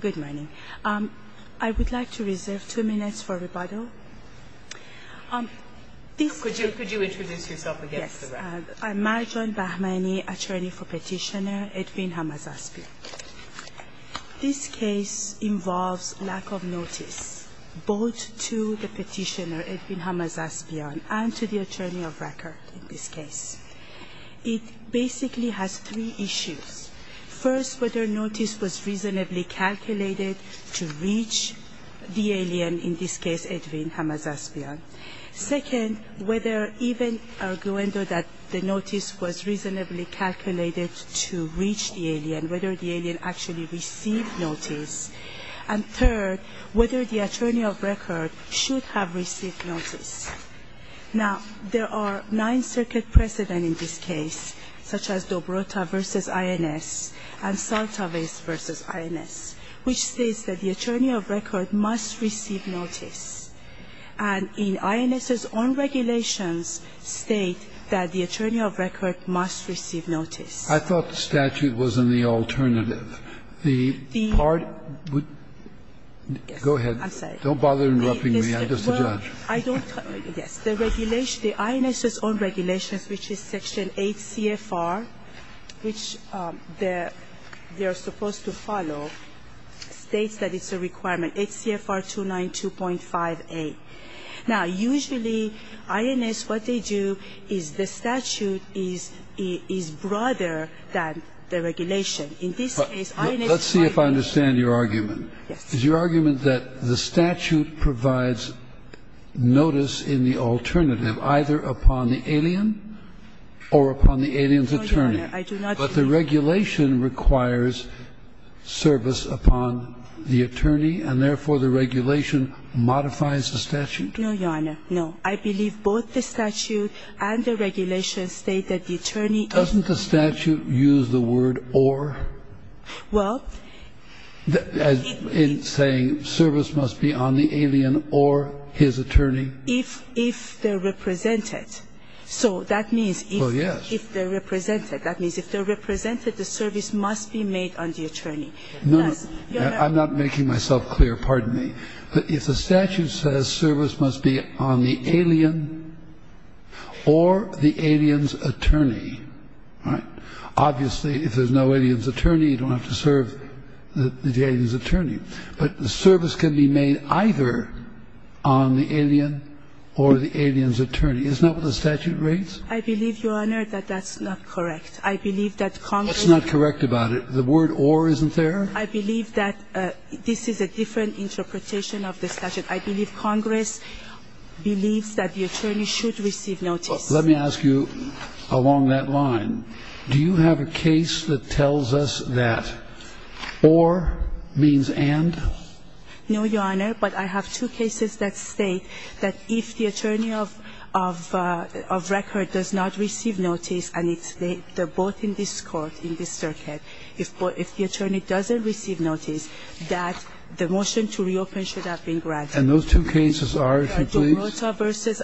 Good morning. I would like to reserve two minutes for rebuttal. Could you introduce yourself again? Yes. I'm Marjan Bahmani, attorney for Petitioner Edwin Hamazaspyan. This case involves lack of notice both to the petitioner, Edwin Hamazaspyan, and to the attorney of record in this case. It basically has three issues. First, whether notice was reasonably calculated to reach the alien, in this case Edwin Hamazaspyan. Second, whether even arguendo that the notice was reasonably calculated to reach the alien, whether the alien actually received notice. And third, whether the attorney of record should have received notice. Now, there are nine circuit precedent in this case, such as Dobrota v. INS and Saltavis v. INS, which states that the attorney of record must receive notice. And in INS's own regulations state that the attorney of record must receive notice. I thought the statute was in the alternative. The part would go ahead. I'm sorry. Don't bother interrupting me. Well, I don't. Yes. The regulation, the INS's own regulations, which is section 8 CFR, which they're supposed to follow, states that it's a requirement, 8 CFR 292.58. Now, usually INS, what they do is the statute is broader than the regulation. In this case, INS is arguing. Let's see if I understand your argument. Yes. Is your argument that the statute provides notice in the alternative, either upon the alien or upon the alien's attorney? No, Your Honor. I do not. But the regulation requires service upon the attorney, and therefore the regulation modifies the statute? No, Your Honor. No. I believe both the statute and the regulation state that the attorney is. Doesn't the statute use the word or? Well. In saying service must be on the alien or his attorney? If they're represented. So that means if they're represented. Well, yes. That means if they're represented, the service must be made on the attorney. No, no. I'm not making myself clear. Pardon me. If the statute says service must be on the alien or the alien's attorney, right, obviously if there's no alien's attorney, you don't have to serve the alien's attorney. But the service can be made either on the alien or the alien's attorney. Isn't that what the statute reads? I believe, Your Honor, that that's not correct. I believe that Congress. What's not correct about it? The word or isn't there? I believe that this is a different interpretation of the statute. I believe Congress believes that the attorney should receive notice. Let me ask you along that line, do you have a case that tells us that or means and? No, Your Honor, but I have two cases that state that if the attorney of record does not receive notice, and they're both in this court, in this circuit, if the attorney doesn't receive notice, that the motion to reopen should have been granted. And those two cases are, if you please? They were decided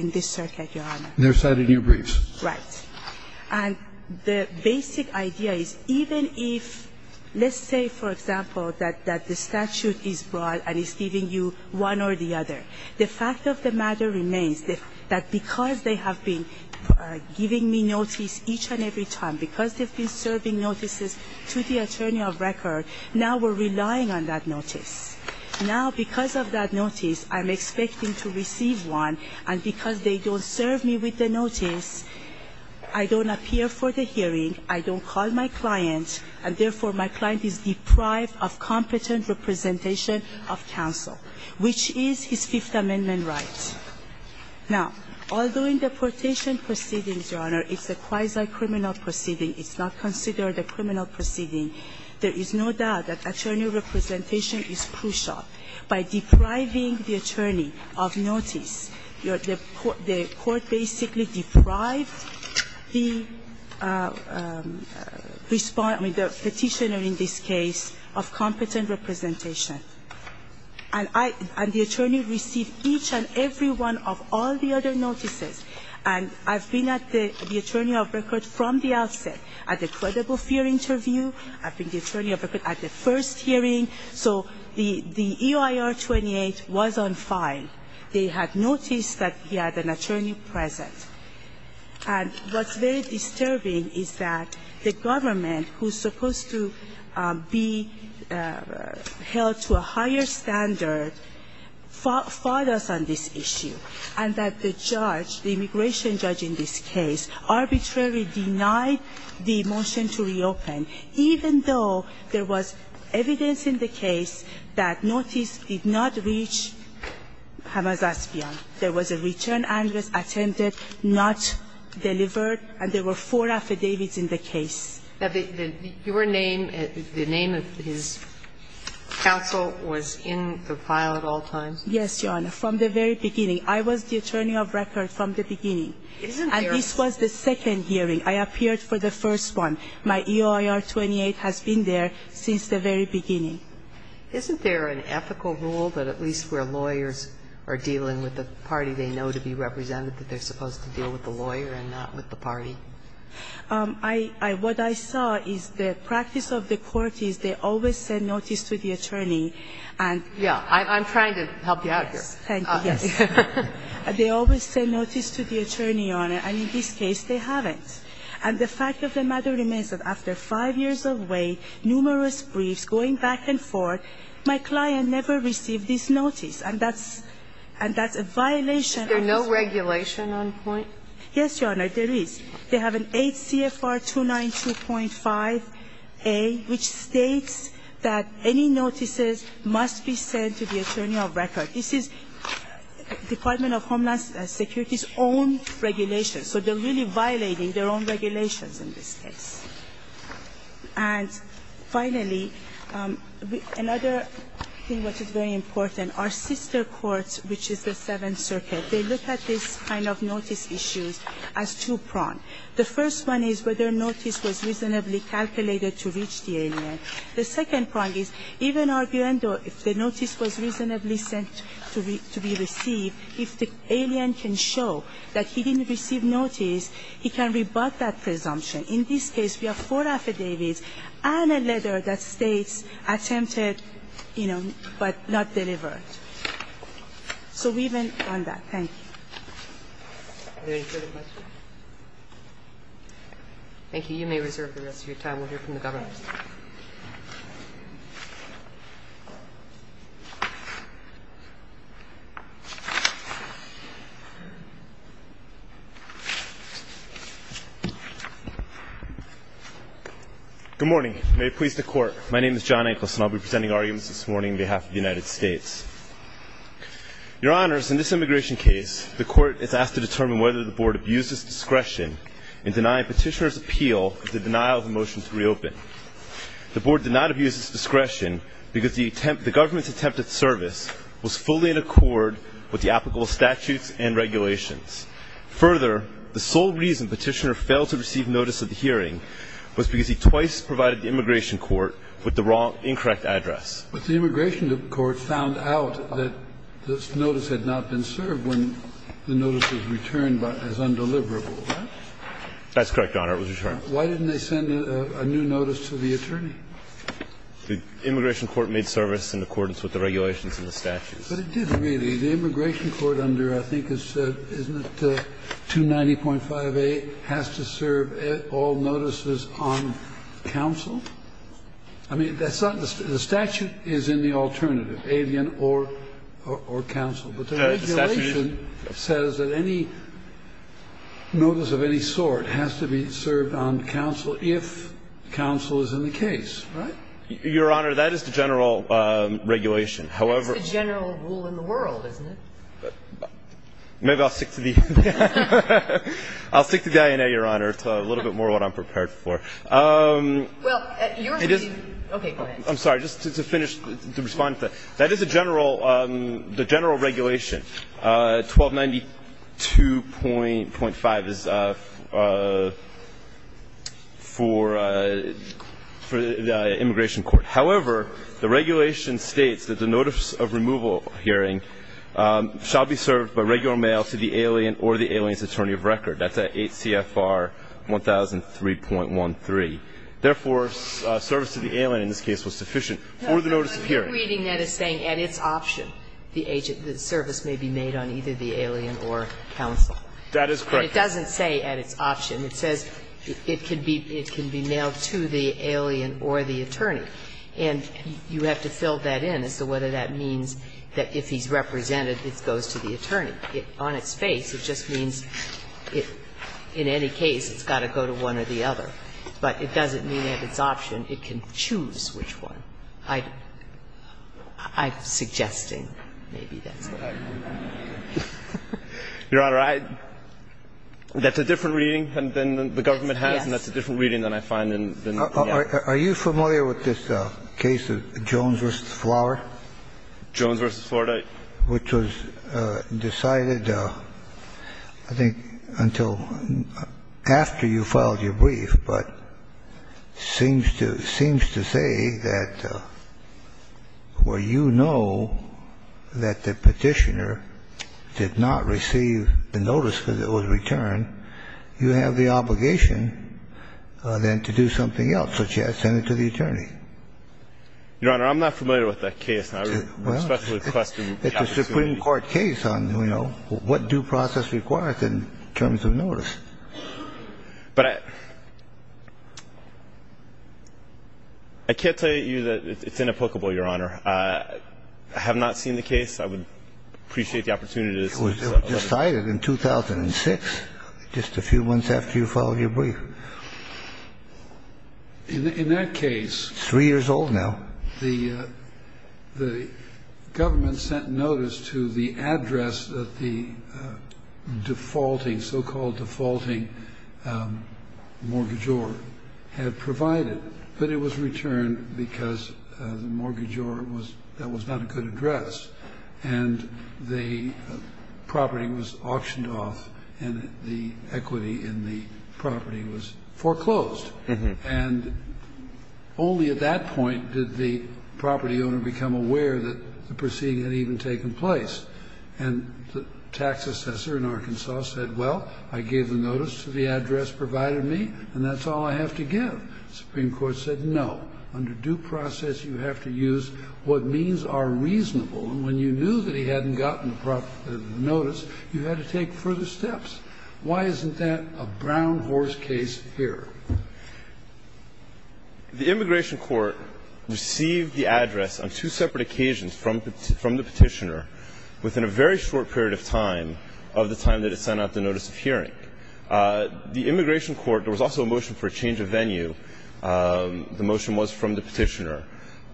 in this circuit, Your Honor. They were decided in your briefs. Right. And the basic idea is even if, let's say, for example, that the statute is broad and is giving you one or the other, the fact of the matter remains that because they have been giving me notice each and every time, because they've been serving notices to the attorney of record, now we're relying on that notice. Now, because of that notice, I'm expecting to receive one, and because they don't serve me with the notice, I don't appear for the hearing, I don't call my client, and therefore my client is deprived of competent representation of counsel, which is his Fifth Amendment right. Now, although in deportation proceedings, Your Honor, it's a quasi-criminal proceeding. It's not considered a criminal proceeding. There is no doubt that attorney representation is crucial. By depriving the attorney of notice, the court basically deprived the petitioner in this case of competent representation. And the attorney received each and every one of all the other notices. And I've been at the attorney of record from the outset at the credible fear interview I've been the attorney of record at the first hearing. So the EIR 28 was on file. They had noticed that he had an attorney present. And what's very disturbing is that the government, who's supposed to be held to a higher standard, fought us on this issue, and that the judge, the immigration judge in this case, arbitrarily denied the motion to reopen, even though there was evidence in the case that notice did not reach Hamas Aspion. There was a return address attended, not delivered, and there were four affidavits in the case. Your name, the name of his counsel was in the file at all times? Yes, Your Honor, from the very beginning. I was the attorney of record from the beginning. And this was the second hearing. I appeared for the first one. My EIR 28 has been there since the very beginning. Isn't there an ethical rule that at least where lawyers are dealing with the party they know to be represented, that they're supposed to deal with the lawyer and not with the party? I – what I saw is the practice of the court is they always send notice to the attorney and – Yeah. I'm trying to help you out here. Thank you. Yes. They always send notice to the attorney, Your Honor, and in this case they haven't. And the fact of the matter remains that after five years of wait, numerous briefs, going back and forth, my client never received this notice, and that's – and that's a violation of this. Is there no regulation on point? Yes, Your Honor, there is. They have an 8 CFR 292.5a, which states that any notices must be sent to the attorney of record. This is Department of Homeland Security's own regulation, so they're really violating their own regulations in this case. And finally, another thing which is very important, our sister courts, which is the Seventh Circuit, they look at this kind of notice issues as two prong. The first one is whether notice was reasonably calculated to reach the alien. The second prong is even arguing if the notice was reasonably sent to be received, if the alien can show that he didn't receive notice, he can rebut that presumption. In this case, we have four affidavits and a letter that states attempted, you know, but not delivered. So we went on that. Thank you. Are there any further questions? Thank you. You may reserve the rest of your time. We'll hear from the Governor. Good morning. May it please the Court. My name is John Anklis, and I'll be presenting arguments this morning on behalf of the United States. Your Honors, in this immigration case, the Court is asked to determine whether the Board abused its discretion in denying Petitioner's appeal the denial of the motion to reopen. The Board did not abuse its discretion because the attempt the government's attempted service was fully in accord with the applicable statutes and regulations. Further, the sole reason Petitioner failed to receive notice of the hearing was because he twice provided the immigration court with the wrong, incorrect address. But the immigration court found out that this notice had not been served when the notice was returned as undeliverable. Right? That's correct, Your Honor. It was returned. Why didn't they send a new notice to the attorney? The immigration court made service in accordance with the regulations and the statutes. But it didn't really. The immigration court under, I think it's, isn't it 290.58 has to serve all notices on counsel? I mean, that's not the statute is in the alternative, alien or counsel. But the regulation says that any notice of any sort has to be served on counsel if counsel is in the case. Right? Your Honor, that is the general regulation. However. That's the general rule in the world, isn't it? Maybe I'll stick to the INA, Your Honor. It's a little bit more what I'm prepared for. Well, yours may be. Okay, go ahead. I'm sorry. Just to finish, to respond to that. That is the general regulation. 1292.5 is for the immigration court. However, the regulation states that the notice of removal hearing shall be served by regular mail to the alien or the alien's attorney of record. That's at 8 CFR 1003.13. Therefore, service to the alien in this case was sufficient for the notice of hearing. I'm reading that as saying at its option the service may be made on either the alien or counsel. That is correct. But it doesn't say at its option. It says it can be mailed to the alien or the attorney. And you have to fill that in as to whether that means that if he's represented, it goes to the attorney. On its face, it just means in any case it's got to go to one or the other. But it doesn't mean at its option. It can choose which one. I'm suggesting maybe that's what I read. Your Honor, that's a different reading than the government has, and that's a different reading than I find in the others. Are you familiar with this case of Jones v. Flower? Jones v. Florida. Which was decided, I think, until after you filed your brief, but seems to say that it's a case where you know that the Petitioner did not receive the notice because it was returned. You have the obligation then to do something else, such as send it to the attorney. Your Honor, I'm not familiar with that case. I would especially question the opportunity. It's a Supreme Court case on, you know, what due process requires in terms of notice. But I can't tell you that it's inapplicable, Your Honor. I have not seen the case. I would appreciate the opportunity to discuss it. It was decided in 2006, just a few months after you filed your brief. In that case. Three years old now. The government sent notice to the address that the defaulting, so-called defaulting, mortgagor had provided. But it was returned because the mortgagor, that was not a good address. And the property was auctioned off and the equity in the property was foreclosed. And only at that point did the property owner become aware that the proceeding had even taken place. And the tax assessor in Arkansas said, well, I gave the notice to the address provided me, and that's all I have to give. The Supreme Court said no. Under due process, you have to use what means are reasonable. And when you knew that he hadn't gotten the notice, you had to take further steps. Why isn't that a brown horse case here? The immigration court received the address on two separate occasions from the petitioner within a very short period of time of the time that it sent out the notice of hearing. The immigration court, there was also a motion for a change of venue. The motion was from the petitioner.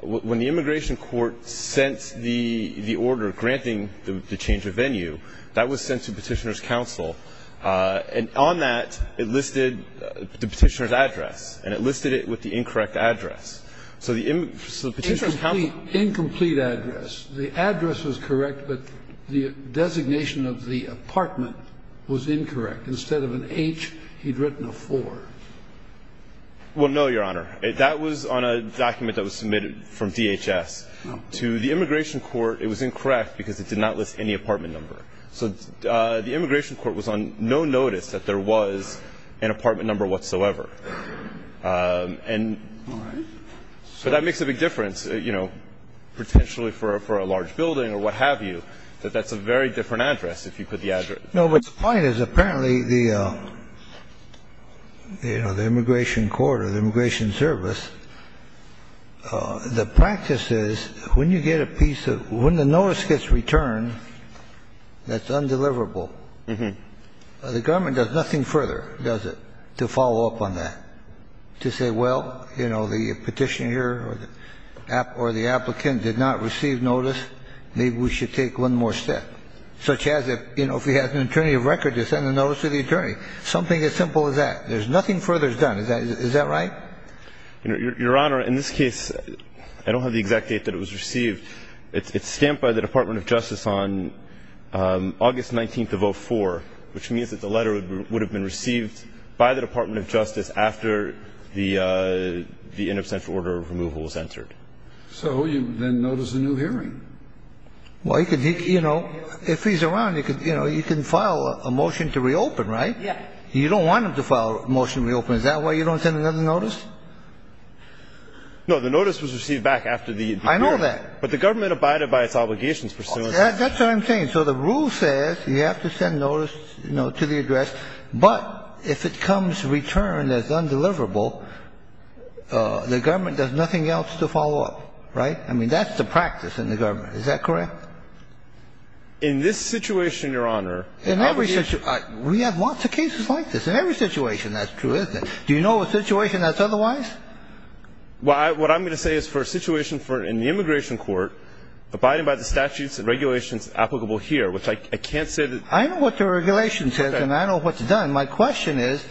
When the immigration court sent the order granting the change of venue, that was sent to the petitioner's counsel. And on that, it listed the petitioner's address. And it listed it with the incorrect address. So the petitioner's counsel ---- Incomplete address. The address was correct, but the designation of the apartment was incorrect. Instead of an H, he'd written a 4. Well, no, Your Honor. That was on a document that was submitted from DHS to the immigration court. It was incorrect because it did not list any apartment number. So the immigration court was on no notice that there was an apartment number whatsoever. And so that makes a big difference, you know, potentially for a large building or what have you, that that's a very different address if you put the address. No, but the point is apparently the, you know, the immigration court or the immigration service, the practice is when you get a piece of ---- when the notice gets returned that's undeliverable, the government does nothing further, does it, to follow up on that, to say, well, you know, the petitioner or the applicant did not receive notice, maybe we should take one more step, such as if, you know, if he has an attorney of record to send a notice to the attorney, something as simple as that. There's nothing further done. Is that right? Your Honor, in this case, I don't have the exact date that it was received. It's stamped by the Department of Justice on August 19th of 04, which means that the letter would have been received by the Department of Justice after the in absentia order of removal was entered. So you then notice a new hearing. Well, you know, if he's around, you know, you can file a motion to reopen, right? You don't want him to file a motion to reopen. Is that why you don't send another notice? No. The notice was received back after the hearing. I know that. But the government abided by its obligations for so long. That's what I'm saying. So the rule says you have to send notice, you know, to the address. But if it comes returned as undeliverable, the government does nothing else to follow up. Right? I mean, that's the practice in the government. Is that correct? In this situation, Your Honor, the obligation ---- In every situation. We have lots of cases like this. In every situation. That's true, isn't it? Do you know of a situation that's otherwise? Well, what I'm going to say is for a situation in the immigration court, abiding by the statutes and regulations applicable here, which I can't say that ---- I know what the regulation says. Okay. And I know what's done. My question is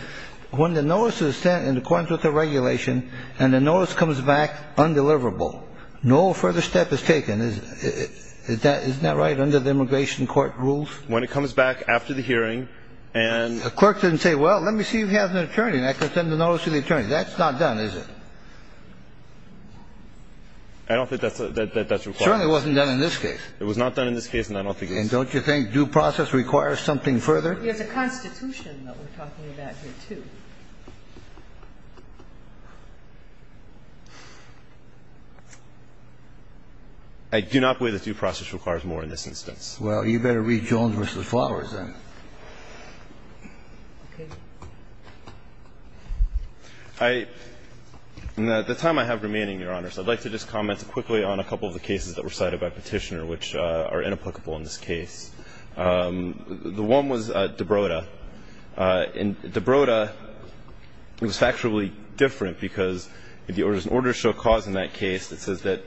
when the notice is sent in accordance with the regulation and the notice comes back undeliverable, no further step is taken. Isn't that right, under the immigration court rules? When it comes back after the hearing and ---- Well, the court didn't say, well, let me see if you have an attorney, and I can send the notice to the attorney. That's not done, is it? I don't think that's required. It certainly wasn't done in this case. It was not done in this case, and I don't think it's ---- And don't you think due process requires something further? There's a Constitution that we're talking about here, too. I do not believe that due process requires more in this instance. Well, you better read Jones v. Flowers, then. Okay. I ---- At the time I have remaining, Your Honor, so I'd like to just comment quickly on a couple of the cases that were cited by Petitioner which are inapplicable in this case. The one was de Broda. And de Broda was factually different because there was an order of show cause in that case that says that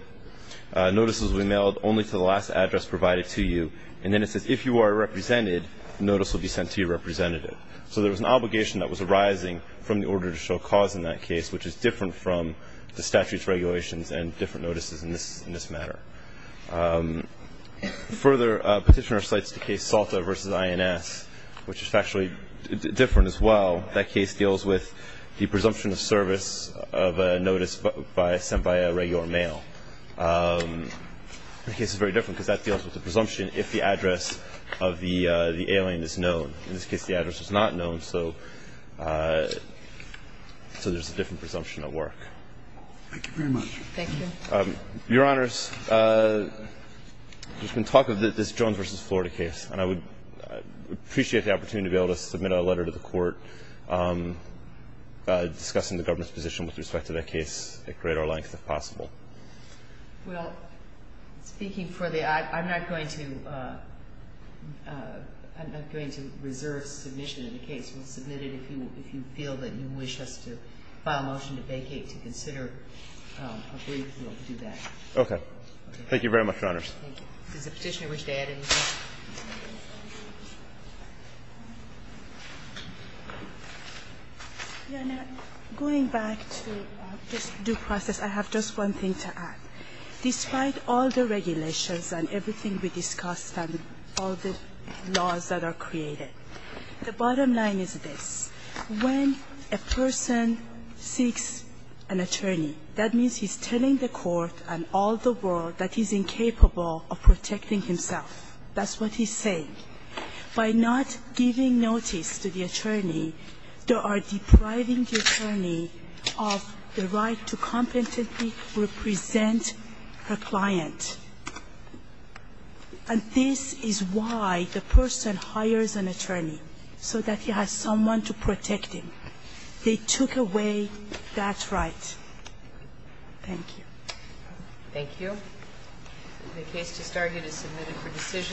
notices will be mailed only to the last address provided to you. And then it says if you are represented, notice will be sent to your representative. So there was an obligation that was arising from the order of show cause in that case, which is different from the statutes, regulations, and different notices in this matter. Further, Petitioner cites the case Salta v. INS, which is factually different as well. That case deals with the presumption of service of a notice sent by a regular mail. The case is very different because that deals with the presumption if the address of the alien is known. In this case, the address was not known, so there's a different presumption at work. Thank you very much. Thank you. Your Honors, there's been talk of this Jones v. Florida case, and I would appreciate the opportunity to be able to submit a letter to the Court discussing the government's position with respect to that case at greater length if possible. Well, speaking for the act, I'm not going to reserve submission of the case. We'll submit it if you feel that you wish us to file a motion to vacate to consider a brief. We'll do that. Okay. Thank you very much, Your Honors. Thank you. Does the Petitioner wish to add anything? Going back to this due process, I have just one thing to add. Despite all the regulations and everything we discussed and all the laws that are created, the bottom line is this. When a person seeks an attorney, that means he's telling the Court and all the world that he's incapable of protecting himself. That's what he's saying. By not giving notice to the attorney, they are depriving the attorney of the right to competently represent her client. And this is why the person hires an attorney, so that he has someone to protect him. They took away that right. Thank you. Thank you. The case just started. It's submitted for decision.